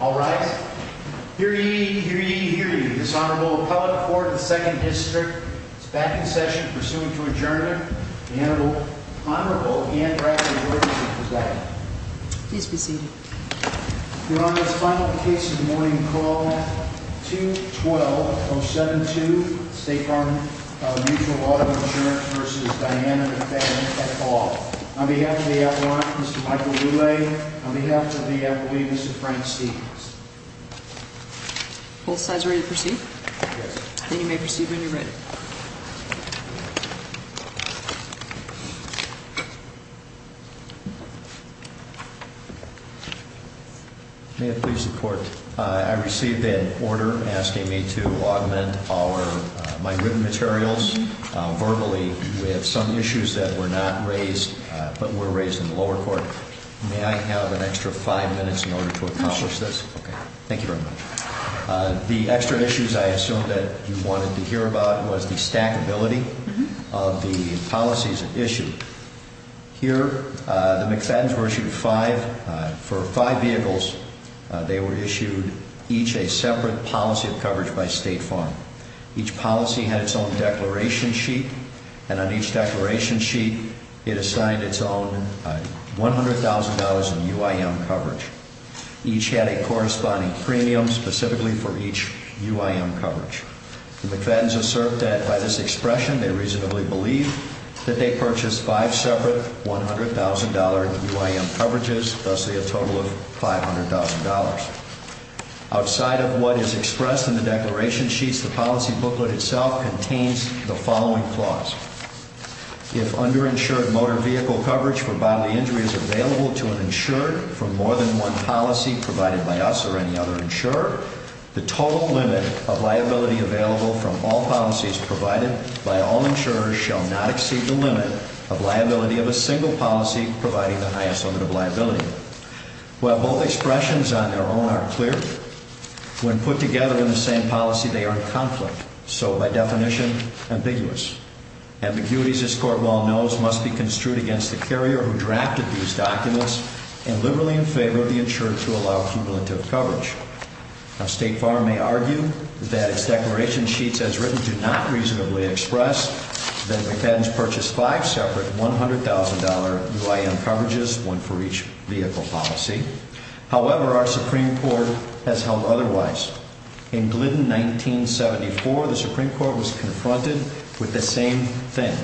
All right. Hear ye, hear ye, hear ye. This Honorable Appellate for the 2nd District is back in session, pursuing to adjourn it. The Honorable Anne Drackley-Gorsuch is back. Please be seated. Your Honor, this final case of the morning, call 2-12-072, State Farm Mutual Auto Insurance v. Diana McFadden, at call. On behalf of the Appellant, Mr. Michael Lule, on behalf of the Appellant, Mr. Frank Stevens. Both sides ready to proceed? Yes. Then you may proceed when you're ready. May it please the Court, I received an order asking me to augment my written materials verbally with some issues that were not raised but were raised in the lower court. May I have an extra five minutes in order to accomplish this? Okay. Thank you very much. The extra issues I assumed that you wanted to hear about was the stackability of the policies issued. Here, the McFadden's were issued five, for five vehicles, they were issued each a separate policy of coverage by State Farm. Each policy had its own declaration sheet and on each declaration sheet it assigned its own $100,000 in UIM coverage. Each had a corresponding premium specifically for each UIM coverage. The McFadden's assert that by this expression they reasonably believe that they purchased five separate $100,000 UIM coverages, thusly a total of $500,000. Outside of what is expressed in the declaration sheets, the policy booklet itself contains the following clause. If underinsured motor vehicle coverage for bodily injury is available to an insurer from more than one policy provided by us or any other insurer, the total limit of liability available from all policies provided by all insurers shall not exceed the limit of liability of a single policy providing the highest limit of liability. While both expressions on their own are clear, when put together in the same policy they are in conflict, so by definition, ambiguous. Ambiguities, as court well knows, must be construed against the carrier who drafted these documents and liberally in favor of the insurer to allow cumulative coverage. Now State Farm may argue that its declaration sheets, as written, do not reasonably express that McFadden's purchased five separate $100,000 UIM coverages, one for each vehicle policy. However, our Supreme Court has held otherwise. In Glidden 1974, the Supreme Court was confronted with the same thing.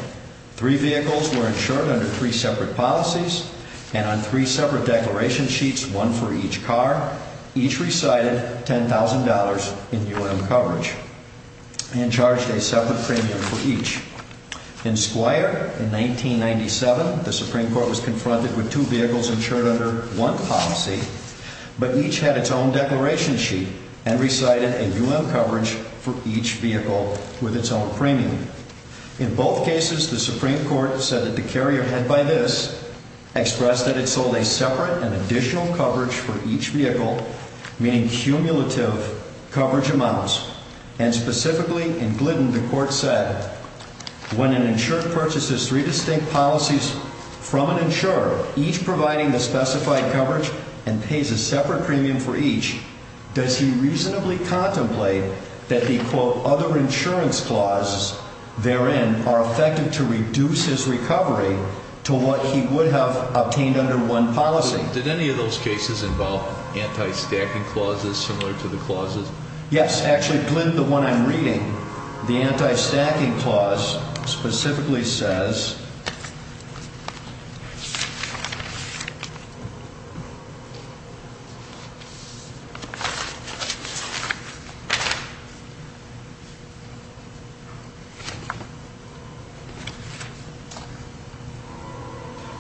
Three vehicles were insured under three separate policies and on three separate declaration sheets, one for each car, each recited $10,000 in UIM coverage and charged a separate premium for each. In Squire in 1997, the Supreme Court was confronted with two vehicles insured under one policy, but each had its own declaration sheet and recited a UIM coverage for each vehicle with its own premium. In both cases, the Supreme Court said that the carrier had, by this, expressed that it sold a separate and additional coverage for each vehicle, meaning cumulative coverage amounts, and specifically in Glidden the Court said, when an insurer purchases three distinct policies from an insurer, each providing the specified coverage and pays a separate premium for each, does he reasonably contemplate that the, quote, other insurance clauses therein are effective to reduce his recovery to what he would have obtained under one policy? Did any of those cases involve anti-stacking clauses similar to the clause, specifically says,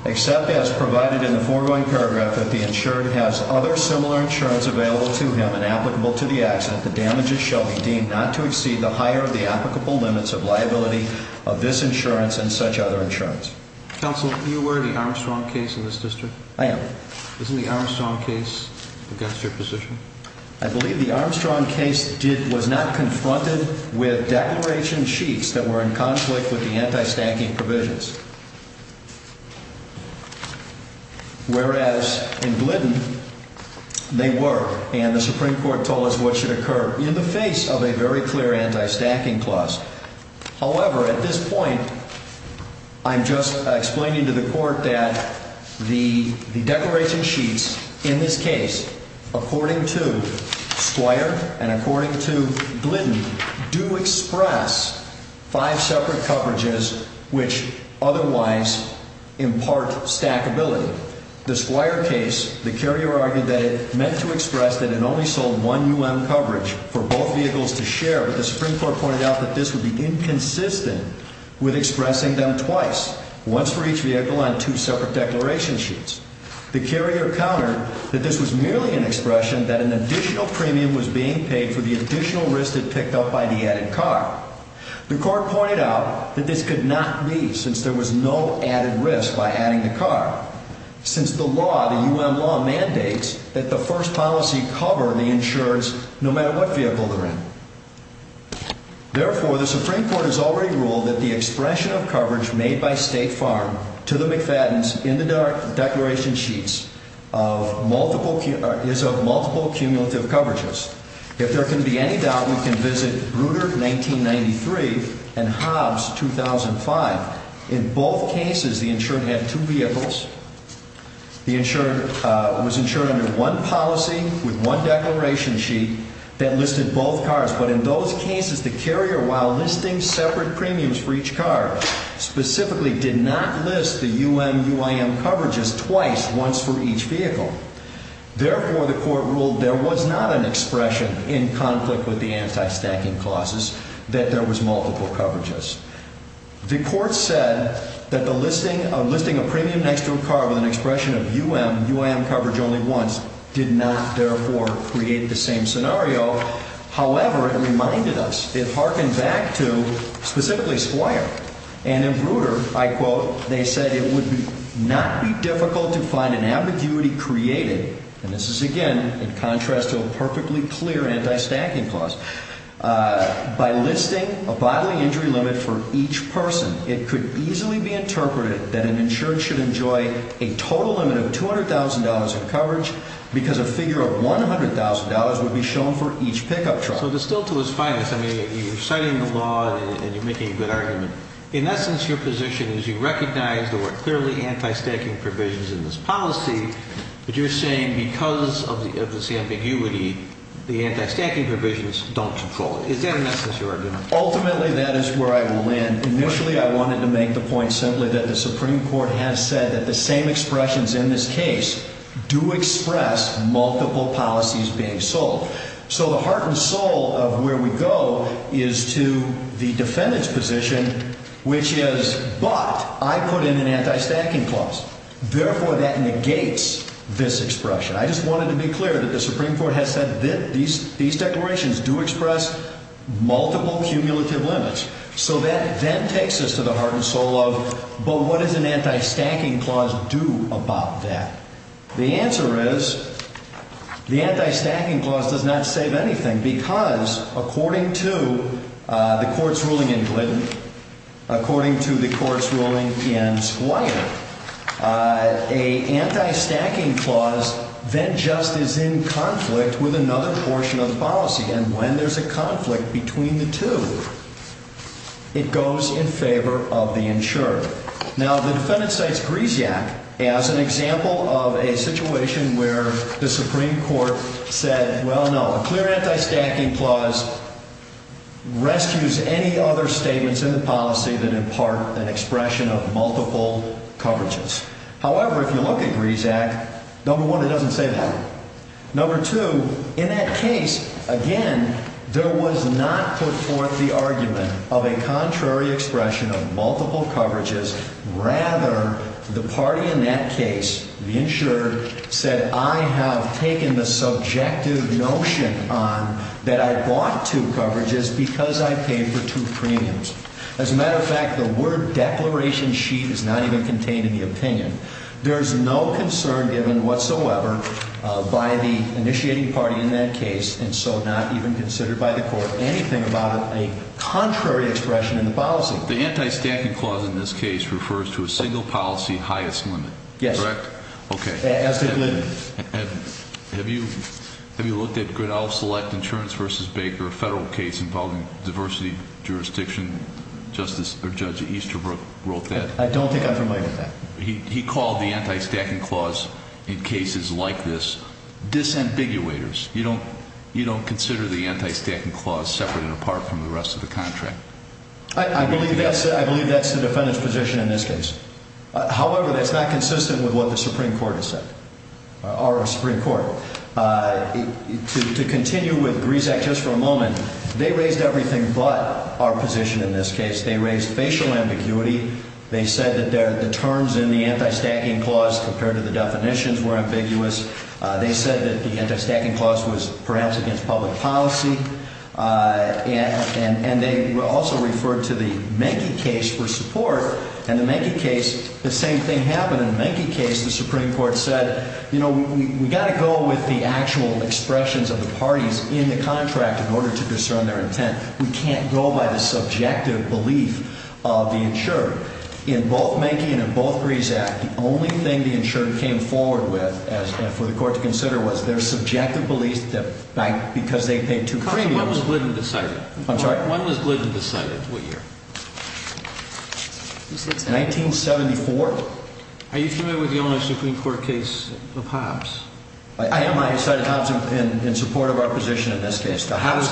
except as provided in the foregoing paragraph that the insurer has other similar insurance available to him and applicable to the accident, the damages shall be deemed not to exceed the applicable limits of liability of this insurance and such other insurance. Counsel, you were the Armstrong case in this district. I am. Isn't the Armstrong case against your position? I believe the Armstrong case did, was not confronted with declaration sheets that were in conflict with the anti-stacking provisions, whereas in Glidden they were, and the Supreme Court has a very clear anti-stacking clause. However, at this point I'm just explaining to the Court that the declaration sheets in this case, according to Squire and according to Glidden, do express five separate coverages which otherwise impart stackability. The Squire case, the carrier argued that it meant to express that it only sold one U.M. coverage for both vehicles to share, but the Supreme Court pointed out that this would be inconsistent with expressing them twice, once for each vehicle on two separate declaration sheets. The carrier countered that this was merely an expression that an additional premium was being paid for the additional risk that picked up by the added car. The Court pointed out that this could not be, since there was no added risk by adding the car, since the law, mandates that the first policy cover the insureds no matter what vehicle they're in. Therefore, the Supreme Court has already ruled that the expression of coverage made by State Farm to the McFadden's in the declaration sheets is of multiple cumulative coverages. If there can be any doubt, we can visit Bruder, 1993, and Hobbs, 2005. In both cases, the insured had two vehicles. The insured was insured under one policy with one declaration sheet that listed both cars. But in those cases, the carrier, while listing separate premiums for each car, specifically did not list the U.M. UIM coverages twice, once for each vehicle. Therefore, the Court ruled there was not an expression in conflict with the listing a premium next to a car with an expression of U.M. UIM coverage only once did not, therefore, create the same scenario. However, it reminded us, it hearkened back to, specifically Squire. And in Bruder, I quote, they said it would not be difficult to find an ambiguity created, and this is, again, in contrast to a perfectly clear anti-stacking clause, by listing a bodily injury limit for each person. It could easily be interpreted that an insured should enjoy a total limit of $200,000 in coverage because a figure of $100,000 would be shown for each pickup truck. So distilled to its finest, I mean, you're citing the law and you're making a good argument. In essence, your position is you recognize there were clearly anti-stacking provisions in this policy, but you're saying because of this ambiguity, the anti-stacking provisions don't control it. Is that in essence your argument? Ultimately, that is where I will land. Initially, I wanted to make the point simply that the Supreme Court has said that the same expressions in this case do express multiple policies being sold. So the heart and soul of where we go is to the defendant's position, which is, but I put in an anti-stacking clause. Therefore, that negates this expression. I just wanted to be clear that the Supreme Court has said that these declarations do express multiple cumulative limits. So that then takes us to the heart and soul of, but what does an anti-stacking clause do about that? The answer is the anti-stacking clause does not save anything because according to the court's ruling in Glidden, according to the court's ruling in Squire, a anti-stacking clause then just is in conflict with another portion of the policy. And when there's a conflict between the two, it goes in favor of the insured. Now, the defendant cites Grisiak as an example of a situation where the Supreme Court said, well, a clear anti-stacking clause rescues any other statements in the policy that impart an expression of multiple coverages. However, if you look at Grisiak, number one, it doesn't say that. Number two, in that case, again, there was not put forth the argument of a contrary expression of multiple coverages. The only reason I put a motion on that I bought two coverages because I paid for two premiums. As a matter of fact, the word declaration sheet is not even contained in the opinion. There's no concern given whatsoever by the initiating party in that case and so not even considered by the court anything about a contrary expression in the policy. The anti-stacking clause in this case refers to a single policy highest limit. Yes. Correct? Okay. As did Glidden. And have you have you looked at Grinnell Select Insurance versus Baker, a federal case involving diversity jurisdiction? Justice or Judge Easterbrook wrote that. I don't think I'm familiar with that. He called the anti-stacking clause in cases like this disambiguators. You don't you don't consider the anti-stacking clause separate and apart from the rest of the contract. I believe that's I believe that's the defendant's position in this case. However, that's not consistent with what the Supreme Court has said or a Supreme Court. To continue with Grisak just for a moment, they raised everything but our position in this case. They raised facial ambiguity. They said that the terms in the anti-stacking clause compared to the definitions were ambiguous. They said that the anti-stacking clause was perhaps against public policy. And they also referred to the Menke case for support. And the Menke case, the same thing happened in the Menke case. The Supreme Court said, you know, we got to go with the actual expressions of the parties in the contract in order to discern their intent. We can't go by the subjective belief of the insured in both Menke and in both Grisak. The only thing the insured came forward with as for the court to consider was their subjective beliefs that because they Are you familiar with the onus of the Supreme Court case of Hobbs? I am. I cited Hobbs in support of our position in this case. How does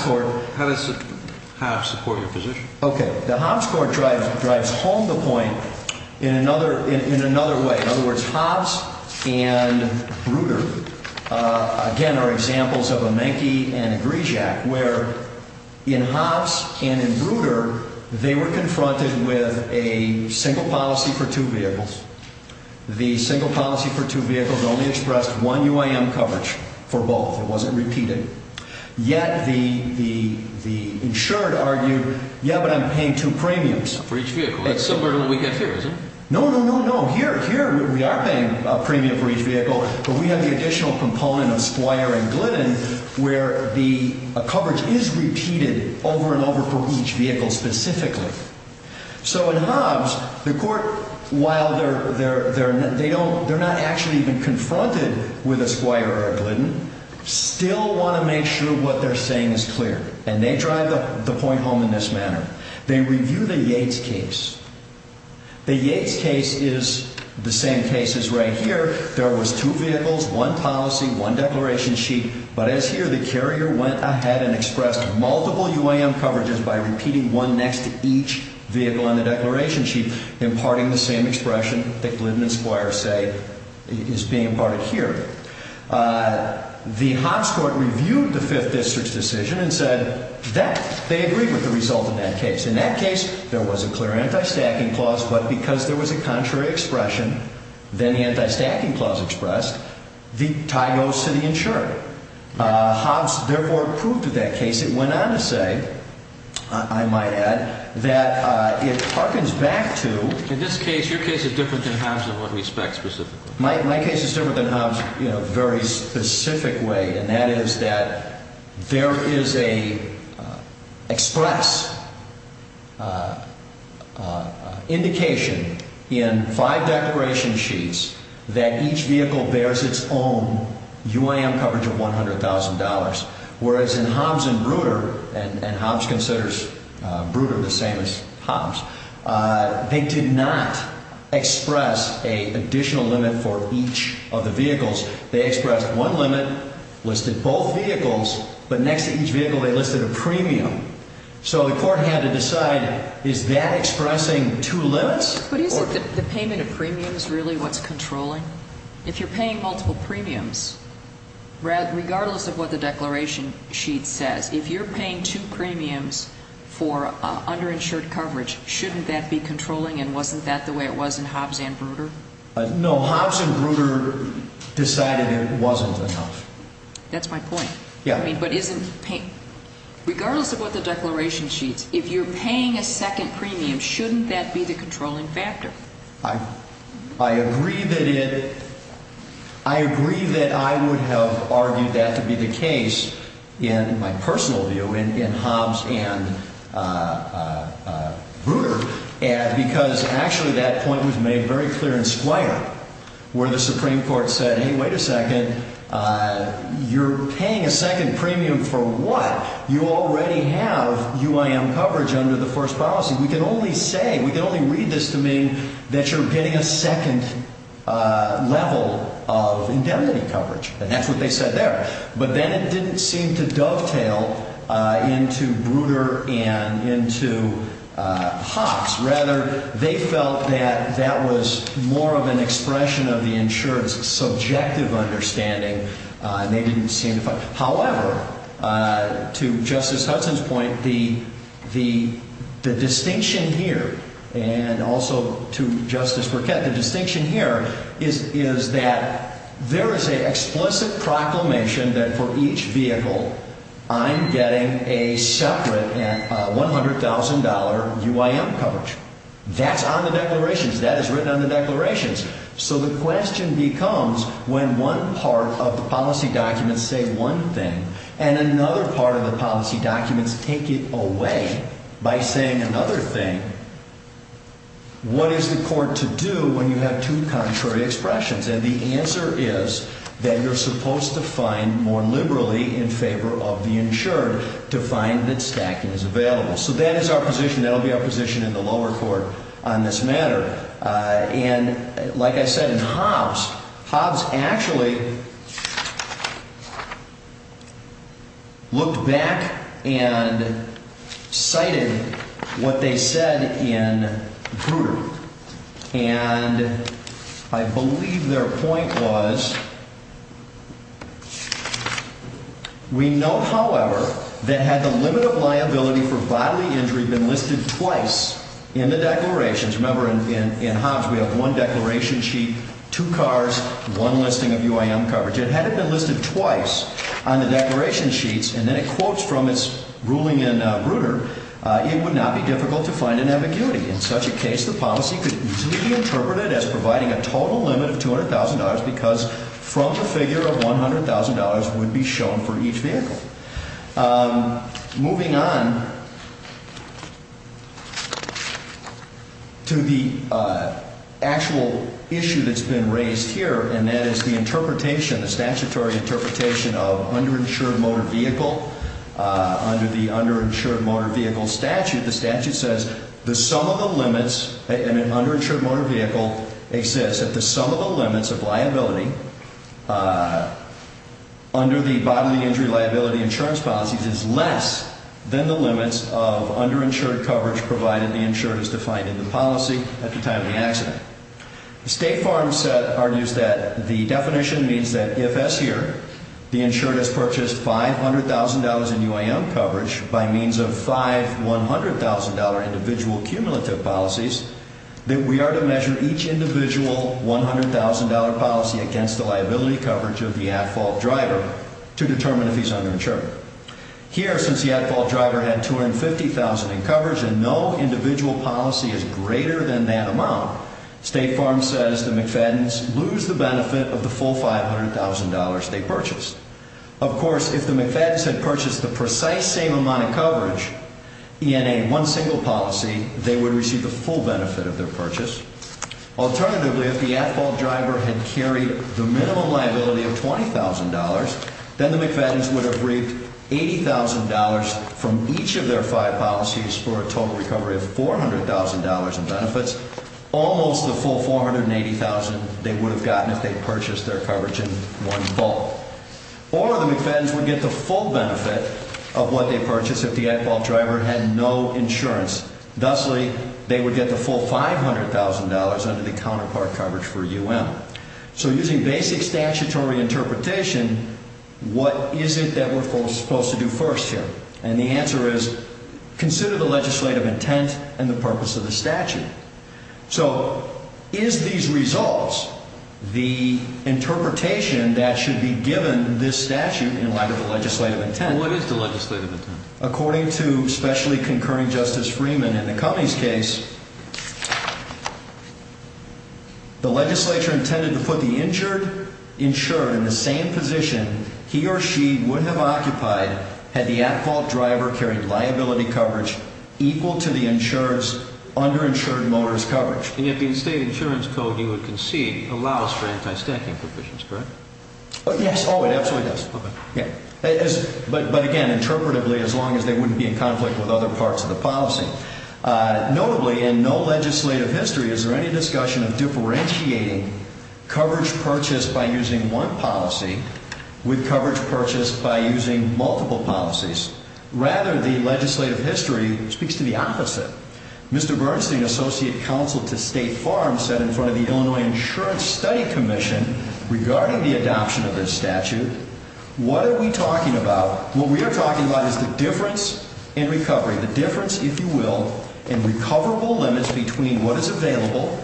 Hobbs support your position? Okay. The Hobbs court drives home the point in another way. In other words, Hobbs and Bruder again are examples of a Menke and a Grisak where in Hobbs and in Bruder, they were confronted with a single policy for two vehicles. The single policy for two vehicles only expressed one UIM coverage for both. It wasn't repeated. Yet the insured argued, yeah, but I'm paying two premiums for each vehicle. That's similar to what we get here, isn't it? No, no, no, no. Here we are paying a premium for each vehicle, but we have the additional component of Squire and Glidden where the coverage is repeated over and over for each vehicle specifically. So in Hobbs, the court, while they're not actually even confronted with a Squire or a Glidden, still want to make sure what they're saying is clear. And they drive the point home in this manner. They review the Yates case. The Yates case is the same case as right here. There was two vehicles, one policy, one declaration sheet. But as here, the carrier went ahead and expressed multiple UIM coverages by repeating one next to each vehicle on the declaration sheet, imparting the same expression that Glidden and Squire say is being imparted here. The Hobbs court reviewed the Fifth District's decision and said that they agreed with the result of that case. In that case, there was a clear anti-stacking clause, but because there was a contrary expression, then the anti-stacking clause expressed, the tie goes to the insured. Hobbs, therefore, approved of that case. It went on to say, I might add, that it harkens back to In this case, your case is different than Hobbs in what we spec specifically. My case is different than Hobbs in a very specific way, and that is that there is a express indication in five declaration sheets that each vehicle bears its own UIM coverage of $100,000, whereas in Hobbs and Bruder, and Hobbs considers Bruder the same as Hobbs, they did not express an additional limit for each of the vehicles. They expressed one limit, listed both vehicles, but next to each vehicle, they listed a premium. So the court had to decide, is that expressing two limits? But isn't the payment of premiums really what's controlling? If you're paying multiple premiums, regardless of what the declaration sheet says, if you're paying two premiums for underinsured coverage, shouldn't that be controlling, and wasn't that the way it was in Hobbs and Bruder? No, Hobbs and Bruder decided it wasn't enough. That's my point. But regardless of what the declaration sheet says, if you're paying a second premium, shouldn't that be the controlling factor? I agree that I would have argued that to be the case in my personal view in Hobbs and Bruder, because actually that point was made very clear in Squire, where the Supreme Court said, hey, wait a second, you're paying a second premium for what? You already have UIM coverage under the first policy. We can only say, we can only read this to mean that you're getting a second level of indemnity coverage, and that's what they said there. But then it didn't seem to dovetail into Bruder and into Hobbs. Rather, they felt that that was more of an expression of the insurer's subjective understanding, and they didn't seem to find it. However, to Justice Hudson's point, the distinction here, and also to Justice Burkett, the distinction here is that there is an explicit proclamation that for each vehicle, I'm getting a separate $100,000 UIM coverage. That's on the declarations. That is written on the declarations. So the question becomes, when one part of the policy documents say one thing, and another part of the policy documents take it away by saying another thing, what is the court to do when you have two contrary expressions? And the answer is that you're supposed to find more liberally in favor of the insured to find that stacking is available. So that is our position. That'll be our position in the lower court on this matter. And like I said in Hobbs, Hobbs actually looked back and cited what they said in Bruder. And I believe their point was, we know, however, that had the limit of liability for bodily injury been listed twice in the declarations. Remember, in Hobbs, we have one declaration sheet, two cars, one listing of UIM coverage. Had it been listed twice on the declaration sheets, and then it quotes from its ruling in Bruder, it would not be difficult to find an ambiguity. In such a case, the policy could easily be interpreted as providing a total limit of $200,000 because from the figure of $100,000 would be shown for each vehicle. Moving on to the actual issue that's been raised here, and that is the interpretation, the statutory interpretation of underinsured motor vehicle. Under the underinsured motor vehicle statute, the statute says the sum of the limits, an underinsured motor vehicle exists at the sum of the limits of liability under the bodily injury liability insurance policies is less than the limits of underinsured coverage provided the insured is defined in the policy at the time of the accident. The State Farm set argues that the definition means that if, as here, the insured has purchased $500,000 in UIM coverage by means of five $100,000 individual cumulative policies, that we are to measure each individual $100,000 policy against the liability coverage of the at-fault driver to determine if he's underinsured. Here, since the at-fault driver had $250,000 in coverage and no individual policy is greater than that amount, State Farm says the Of course, if the McFadden's had purchased the precise same amount of coverage, ENA, one single policy, they would receive the full benefit of their purchase. Alternatively, if the at-fault driver had carried the minimum liability of $20,000, then the McFadden's would have reaped $80,000 from each of their five policies for a total recovery of $400,000 in benefits, almost the full $480,000 they would have gotten if they purchased their coverage in bulk. Or, the McFadden's would get the full benefit of what they purchased if the at-fault driver had no insurance. Thusly, they would get the full $500,000 under the counterpart coverage for UIM. So, using basic statutory interpretation, what is it that we're supposed to do first here? And the answer is, consider the legislative intent and the purpose of the statute. So, is these results the interpretation that should be given this statute in light of the legislative intent? And what is the legislative intent? According to specially concurring Justice Freeman in the Cummings case, the legislature intended to put the insured in the same position he or she would have occupied had the at-fault driver carried liability coverage equal to the state insurance code you would concede allows for anti-staking provisions, correct? Yes, oh, it absolutely does. But again, interpretively, as long as they wouldn't be in conflict with other parts of the policy. Notably, in no legislative history is there any discussion of differentiating coverage purchased by using one policy with coverage purchased by using multiple policies. Rather, the legislative history speaks to the opposite. Mr. Bernstein, Associate Counsel to State Farm, said in front of the Illinois Insurance Study Commission regarding the adoption of this statute, what are we talking about? What we are talking about is the difference in recovery, the difference, if you will, in recoverable limits between what is available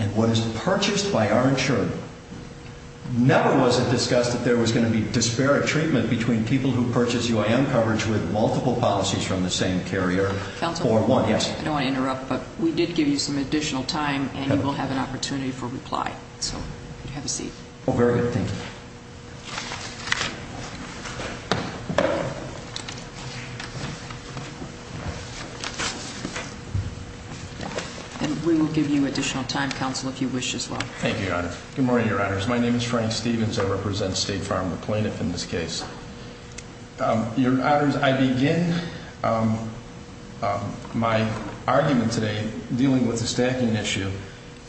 and what is purchased by our insured. Never was it discussed that there was going to be disparate treatment between people who purchase UIM coverage with multiple policies from the same carrier. Counsel, I don't want to interrupt, but we did give you some additional time, and you will have an opportunity for reply. So, have a seat. Oh, very good, thank you. And we will give you additional time, Counsel, if you wish as well. Thank you, Your Honor. Good morning, Your Honors. My name is Frank Stevens. I represent State Farm, the plaintiff in this case. Your Honors, I begin my argument today dealing with the stacking issue,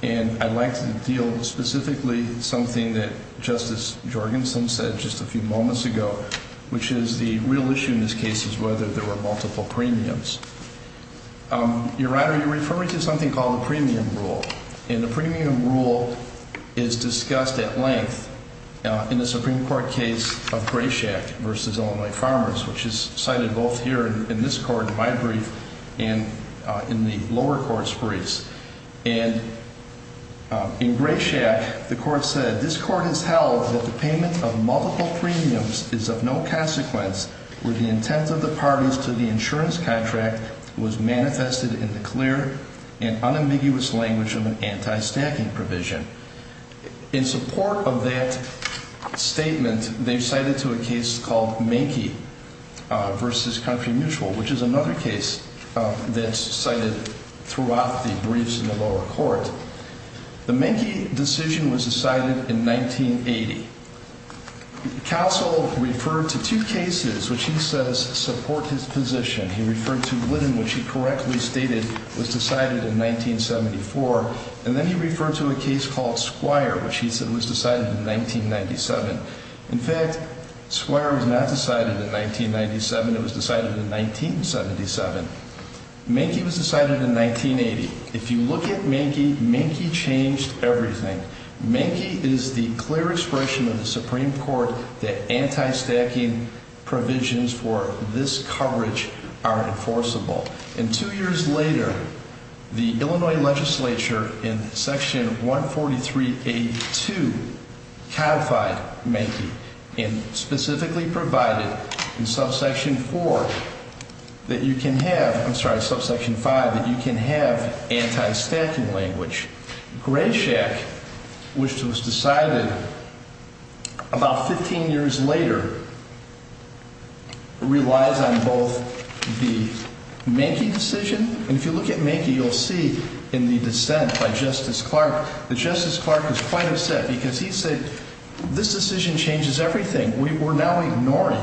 and I would like to deal specifically with something that Justice Jorgenson said just a few moments ago, which is the real issue in this case is whether there were multiple premiums. Your Honor, you are referring to something called the premium rule, and the premium rule is discussed at length in the Supreme Court case of Grayshack v. Illinois Farmers, which is cited both here in this court, my brief, and in the lower court's briefs. And in Grayshack, the court said, this court has held that the payment of multiple premiums is of no consequence where the intent of the parties to the insurance contract was manifested in the clear and unambiguous language of an anti-stacking provision. In support of that statement, they've cited to a case called Manky v. Country Mutual, which is another case that's cited throughout the briefs in the lower court. The Manky decision was decided in 1980. Counsel referred to two cases which he says support his position. He referred to Squire, which he said was decided in 1997. In fact, Squire was not decided in 1997, it was decided in 1977. Manky was decided in 1980. If you look at Manky, Manky changed everything. Manky is the clear expression of the Supreme Court that anti-stacking provisions for this coverage are enforceable. And two years later, the Illinois legislature in Section 143.82 codified Manky and specifically provided in Subsection 4 that you can have, I'm sorry, Subsection 5, that you can have anti-stacking language. Grayshack, which was decided in 1997, about 15 years later, relies on both the Manky decision, and if you look at Manky, you'll see in the dissent by Justice Clark, that Justice Clark was quite upset because he said, this decision changes everything. We're now ignoring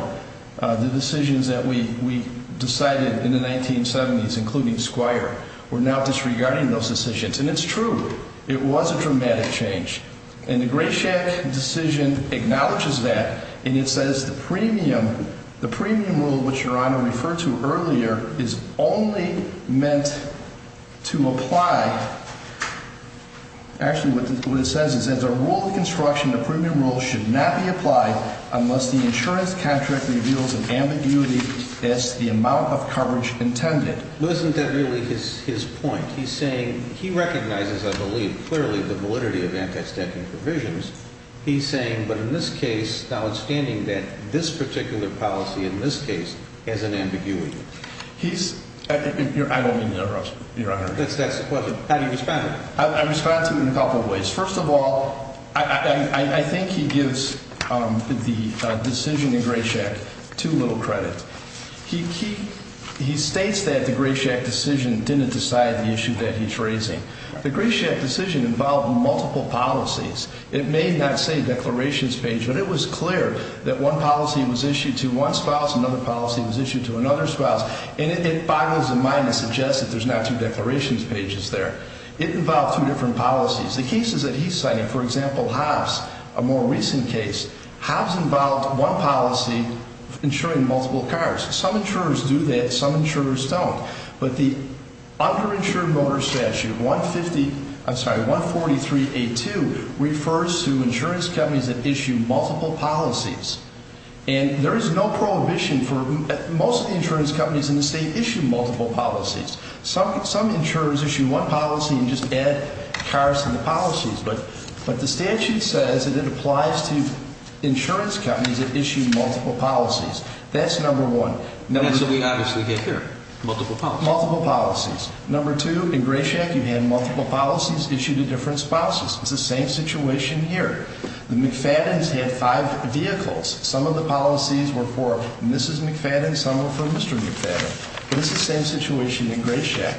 the decisions that we decided in the 1970s, including Squire. We're now disregarding those decisions. And it's true, it was a dramatic change. And the Grayshack decision acknowledges that, and it says the premium, the premium rule, which Your Honor referred to earlier, is only meant to apply. Actually, what it says is, as a rule of construction, the premium rule should not be applied unless the insurance contract reveals an ambiguity as to the amount of coverage intended. Isn't that really his point? He's saying, he recognizes, I believe, clearly the validity of anti-stacking provisions. He's saying, but in this case, now understanding that this particular policy in this case has an ambiguity. He's, I don't mean to interrupt, Your Honor. That's the question. How do you respond? I respond to him in a couple of ways. First of all, I think he gives the decision in didn't decide the issue that he's raising. The Grayshack decision involved multiple policies. It may not say declarations page, but it was clear that one policy was issued to one spouse, another policy was issued to another spouse. And it boggles the mind to suggest that there's not two declarations pages there. It involved two different policies. The cases that he's citing, for example, Hobbs, a more recent case, Hobbs involved one policy insuring multiple cars. Some insurers do that, some insurers don't. But the underinsured motor statute, 150, I'm sorry, 143A2, refers to insurance companies that issue multiple policies. And there is no prohibition for most of the insurance companies in the state issue multiple policies. Some insurers issue one policy and just add cars to the policies. But the statute says it applies to insurance companies that issue multiple policies. That's number one. And that's what we obviously get here, multiple policies. Multiple policies. Number two, in Grayshack, you had multiple policies issued to different spouses. It's the same situation here. The McFadden's had five vehicles. Some of the policies were for Mrs. McFadden, some were for Mr. McFadden. But it's the same situation in Grayshack.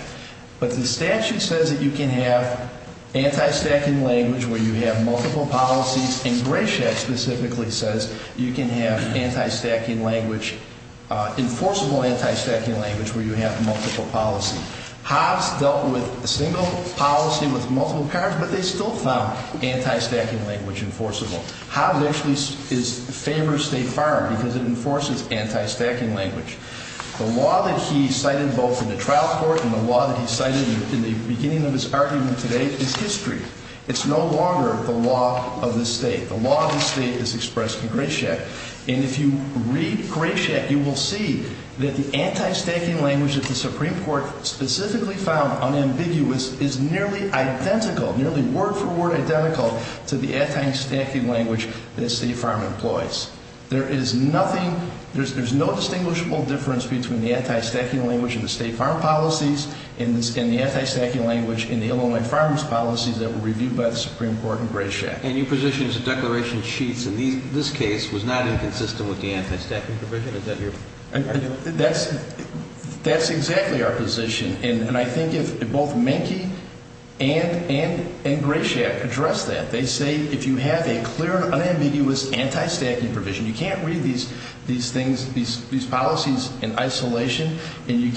But the statute says that you can have anti-stacking language where you have multiple policies. And Grayshack specifically says you can have anti-stacking language, enforceable anti-stacking language where you have multiple policies. Hobbs dealt with a single policy with multiple cars, but they still found anti-stacking language enforceable. Hobbs actually is a favorite of State Farm because it enforces anti-stacking language. The law that he cited both in the trial court and the law that he cited in the beginning of his argument today is history. It's no longer the law of the state. The law of the state is expressed in Grayshack. And if you read Grayshack, you will see that the anti-stacking language that the Supreme Court specifically found unambiguous is nearly identical, nearly word for word identical to the anti-stacking language that State Farm employs. There is nothing, there's no distinguishable difference between the anti-stacking language in the State Farm policies and the anti-stacking language in the Illinois Farms policies that were reviewed by the Supreme Court in Grayshack. And your position is the declaration of sheets in this case was not inconsistent with the anti-stacking provision? Is that your argument? That's exactly our position. And I think if both Menke and Grayshack address that, they say if you have a clear and unambiguous anti-stacking provision, you can't read these things, these policies in isolation, and you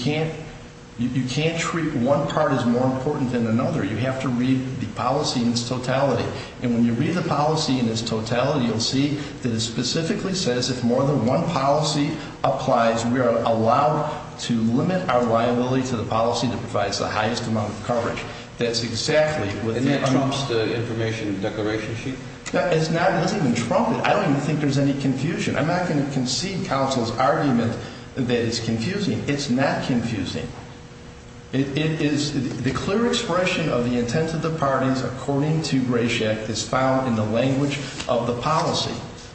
can't treat one part as more important than another. You have to read the policy in its totality. And when you read the policy in its totality, you'll see that it specifically says if more than one policy applies, we are allowed to limit our liability to the policy that provides the highest amount of coverage. That's exactly what... And that trumps the information declaration sheet? No, it doesn't even trump it. I don't even think there's any confusion. I'm not going to concede counsel's argument that it's confusing. It's not confusing. It is... The clear expression of the intent of the parties according to Grayshack is found in the language of the policy.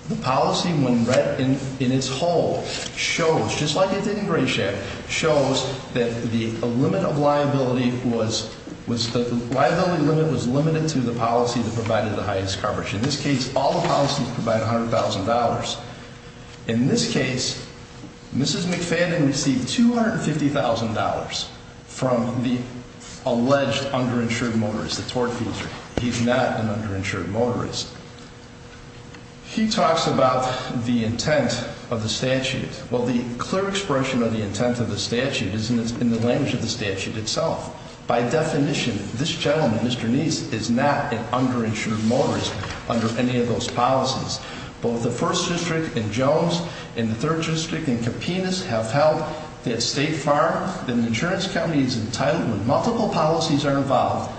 The policy, when read in its whole, shows, just like it did in Grayshack, shows that the limit of liability was... The liability limit was limited to the policy that provided the highest coverage. In this case, Mrs. McFadden received $250,000 from the alleged underinsured motorist, the tort feeder. He's not an underinsured motorist. He talks about the intent of the statute. Well, the clear expression of the intent of the statute is in the language of the statute itself. By definition, this gentleman, Mr. Neese, is not an underinsured motorist under any of those policies. Both the third district and Kapinas have held that State Farm, that an insurance company, is entitled when multiple policies are involved.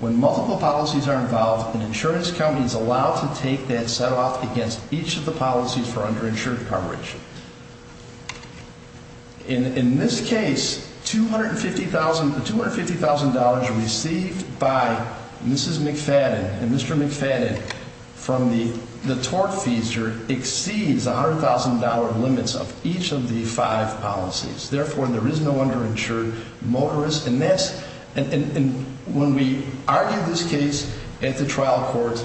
When multiple policies are involved, an insurance company is allowed to take that set off against each of the policies for underinsured coverage. In this case, $250,000 received by Mrs. McFadden and Mr. McFadden from the each of the five policies. Therefore, there is no underinsured motorist. And when we argue this case at the trial court,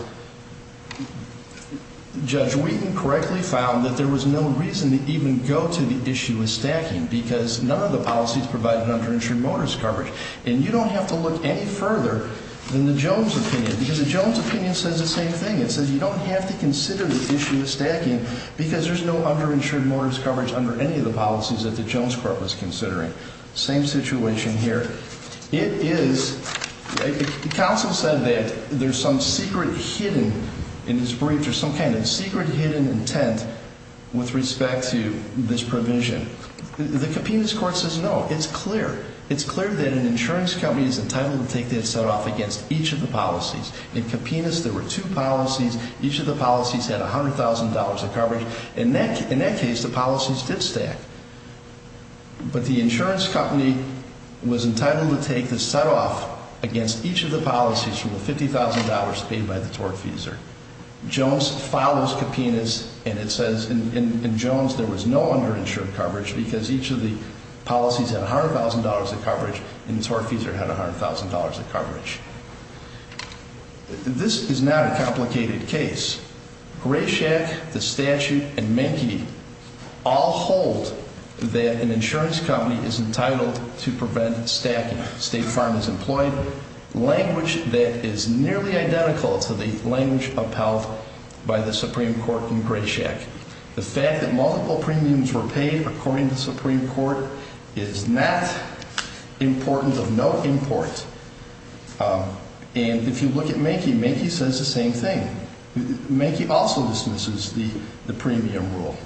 Judge Wheaton correctly found that there was no reason to even go to the issue of stacking, because none of the policies provide an underinsured motorist coverage. And you don't have to look any further than the Jones opinion, because the Jones opinion says the same thing. It says you don't have to consider the issue of stacking, because there's no underinsured motorist coverage under any of the policies that the Jones court was considering. Same situation here. It is, the counsel said that there's some secret hidden, in this brief, there's some kind of secret hidden intent with respect to this provision. The Kapinas court says no. It's clear. It's clear that an insurance company is entitled to take that set off against each of the policies. In Kapinas, there were two policies. Each of the policies had $100,000 of coverage. In that, in that case, the policies did stack. But the insurance company was entitled to take the set off against each of the policies for the $50,000 paid by the tortfeasor. Jones follows Kapinas, and it says in Jones, there was no underinsured coverage because each of the policies had $100,000 of coverage, and the tortfeasor had $100,000 of coverage. This is not a complicated case. Grayshack, the statute, and Menke, all hold that an insurance company is entitled to prevent stacking. State Farm is employed language that is nearly identical to the language upheld by the Supreme Court in Grayshack. The fact that multiple premiums were Menke says the same thing. Menke also dismisses the premium rule.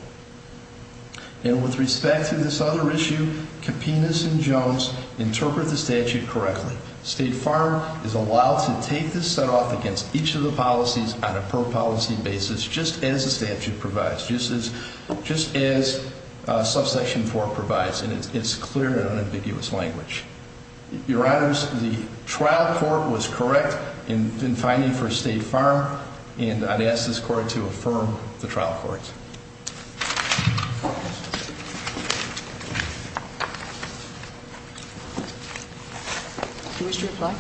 And with respect to this other issue, Kapinas and Jones interpret the statute correctly. State Farm is allowed to take this set off against each of the policies on a per policy basis, just as the statute provides, just as subsection four provides, and it's clear and unambiguous language. Your honors, the trial court was correct in finding for State Farm, and I'd ask this court to affirm the trial courts. Do you wish to reply?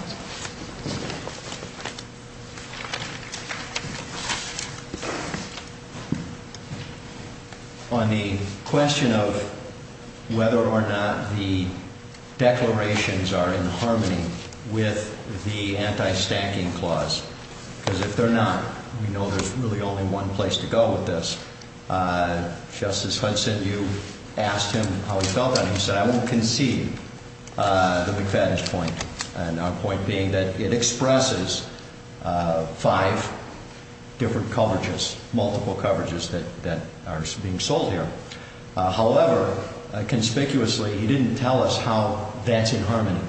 On the question of whether or not the declarations are in harmony with the anti-stacking clause, because if they're not, we know there's really only one place to go with this, Justice Hudson, you asked him how he felt on it. He said, I won't concede the McFadden's point, and our point being that it expresses five different coverages, multiple coverages that are being sold here. However, conspicuously, he didn't tell us how that's in harmony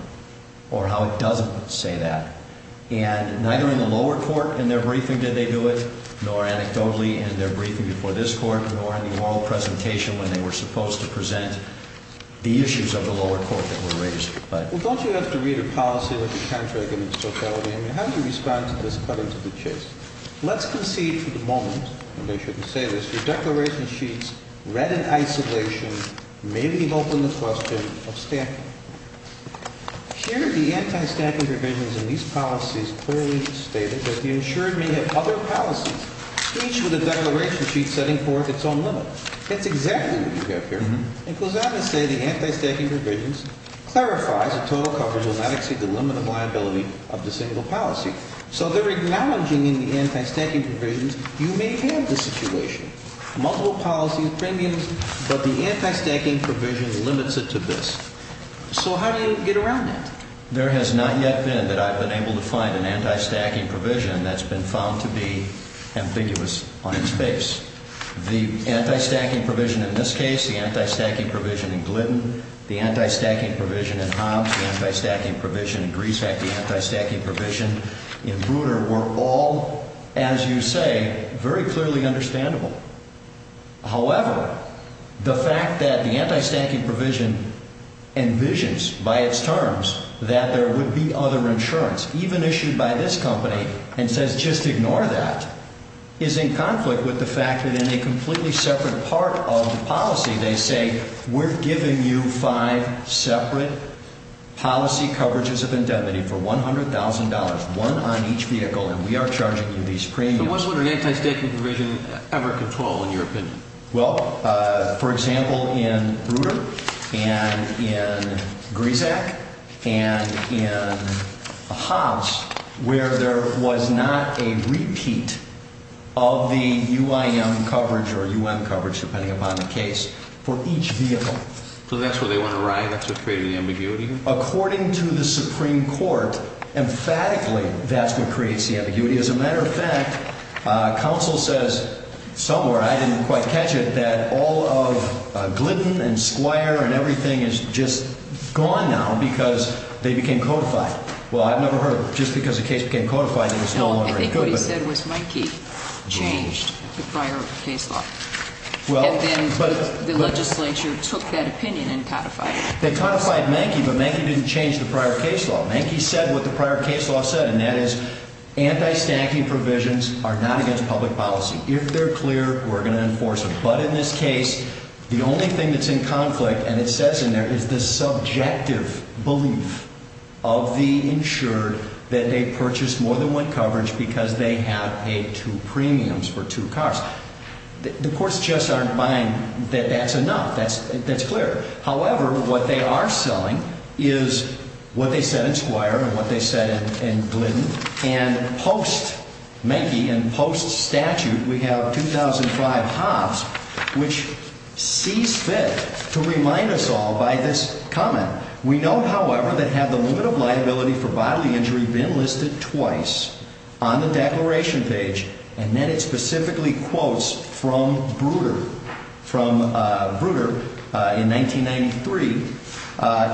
or how it doesn't say that. And neither in the lower court in their briefing did they do it, nor anecdotally in their briefing before this court, nor in the oral presentation when they were supposed to present the issues of the lower court that were raised. Well, don't you have to read a policy with the contract and the totality? I mean, how do you respond to this cutting to the chase? Let's concede for the moment, and I shouldn't say this, your declaration sheets, read in isolation, may be open to the question of stacking. Here, the anti-stacking provisions in these policies clearly stated that the insured may have other policies, each with a declaration sheet setting forth its own limit. That's exactly what you have here. It goes on to say the anti-stacking provisions clarifies a total coverage will not exceed the limit of liability of the single policy. So they're acknowledging in the anti-stacking provisions, you may have the situation, multiple policies, premiums, but the anti-stacking provisions limits it to this. So how do you get around that? There has not yet been that I've been able to find an anti-stacking provision that's been found to be ambiguous on its face. The anti-stacking provision in this case, the anti-stacking provision in Glidden, the anti-stacking provision in Hobbs, the anti-stacking provision in Greasehack, the anti-stacking provision in Bruder were all, as you say, very clearly understandable. However, the fact that the anti-stacking provision envisions by its terms that there would be other insurance, even issued by this company, and says just ignore that, is in conflict with the fact that in a completely separate part of the policy, they say we're giving you five separate policy coverages of indemnity for $100,000, one on each vehicle, and we are charging you these premiums. So what would an anti-stacking provision ever control, in your opinion? Well, for example, in Bruder, and in Greasehack, and in Hobbs, where there was not a repeat of the UIM coverage or UM coverage, depending upon the case, for each vehicle. So that's where they want to arrive? That's what's creating the ambiguity? According to the Supreme Court, emphatically, that's what creates the ambiguity. As a matter of fact, counsel says somewhere, I didn't quite catch it, that all of Glidden and Squire and everything is just gone now because they became codified. Well, I've never heard, just because the case became codified, it was no longer good. No, I think what he said was Mankey changed the prior case law. And then the legislature took that opinion and codified it. They codified Mankey, but Mankey didn't change the prior case law. Mankey said what the prior case law said, and that is anti-stacking provisions are not against public policy. If they're clear, we're going to enforce them. But in this case, the only thing that's in conflict, and it says in there, is the subjective belief of the insured that they purchased more than one coverage because they had paid two premiums for two cars. The courts just aren't buying that that's enough. That's not enough. What they are selling is what they said in Squire and what they said in Glidden. And post-Mankey and post-statute, we have 2005 Hobbs, which sees fit to remind us all by this comment. We know, however, that had the limit of liability for bodily injury been listed twice on the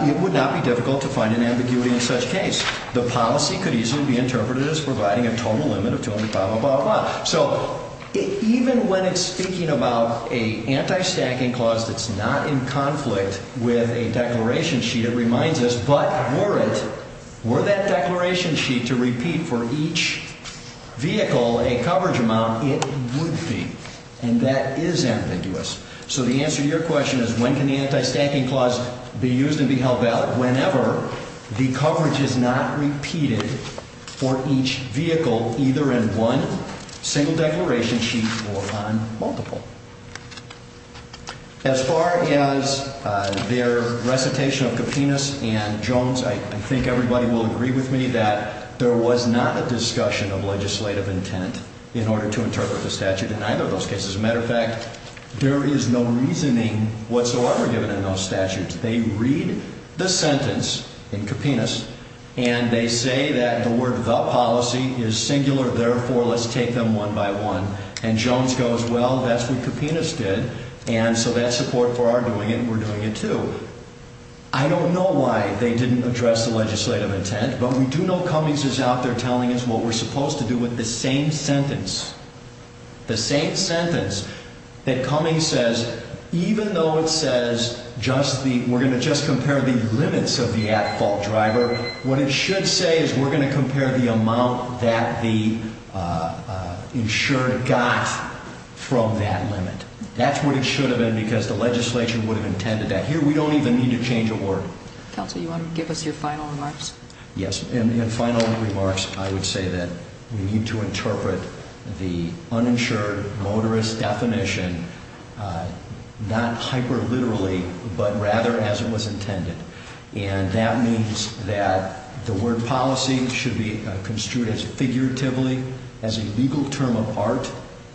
It would not be difficult to find an ambiguity in such case. The policy could easily be interpreted as providing a total limit of 200, blah, blah, blah. So even when it's speaking about a anti-stacking clause that's not in conflict with a declaration sheet, it reminds us, but were it, were that declaration sheet to repeat for each vehicle a coverage amount, it would be. And that is ambiguous. So the answer to your question is when can the anti-stacking clause be used and be held valid? Whenever the coverage is not repeated for each vehicle, either in one single declaration sheet or on multiple. As far as their recitation of Kapinas and Jones, I think everybody will agree with me that there was not a discussion of legislative intent in order to interpret the There is no reasoning whatsoever given in those statutes. They read the sentence in Kapinas and they say that the word the policy is singular. Therefore, let's take them one by one. And Jones goes, well, that's what Kapinas did. And so that support for our doing it, we're doing it too. I don't know why they didn't address the legislative intent, but we do know Cummings is out there telling us what we're supposed to do with the same sentence, the same sentence that Cummings says, even though it says just the we're going to just compare the limits of the at-fault driver, what it should say is we're going to compare the amount that the insured got from that limit. That's what it should have been, because the legislation would have intended that here. We don't even need to change a word. Counsel, you want to give us your final remarks? Yes. And in final remarks, I would say that we need to interpret the uninsured motorist definition not hyper literally, but rather as it was intended. And that means that the word policy should be construed as figuratively as a legal term of art.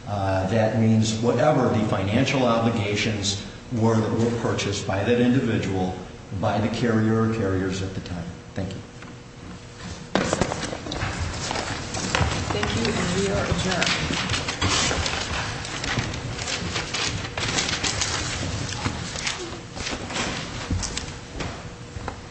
That means whatever the financial obligations were that were purchased by that individual by the carrier carriers at the time. Thank you.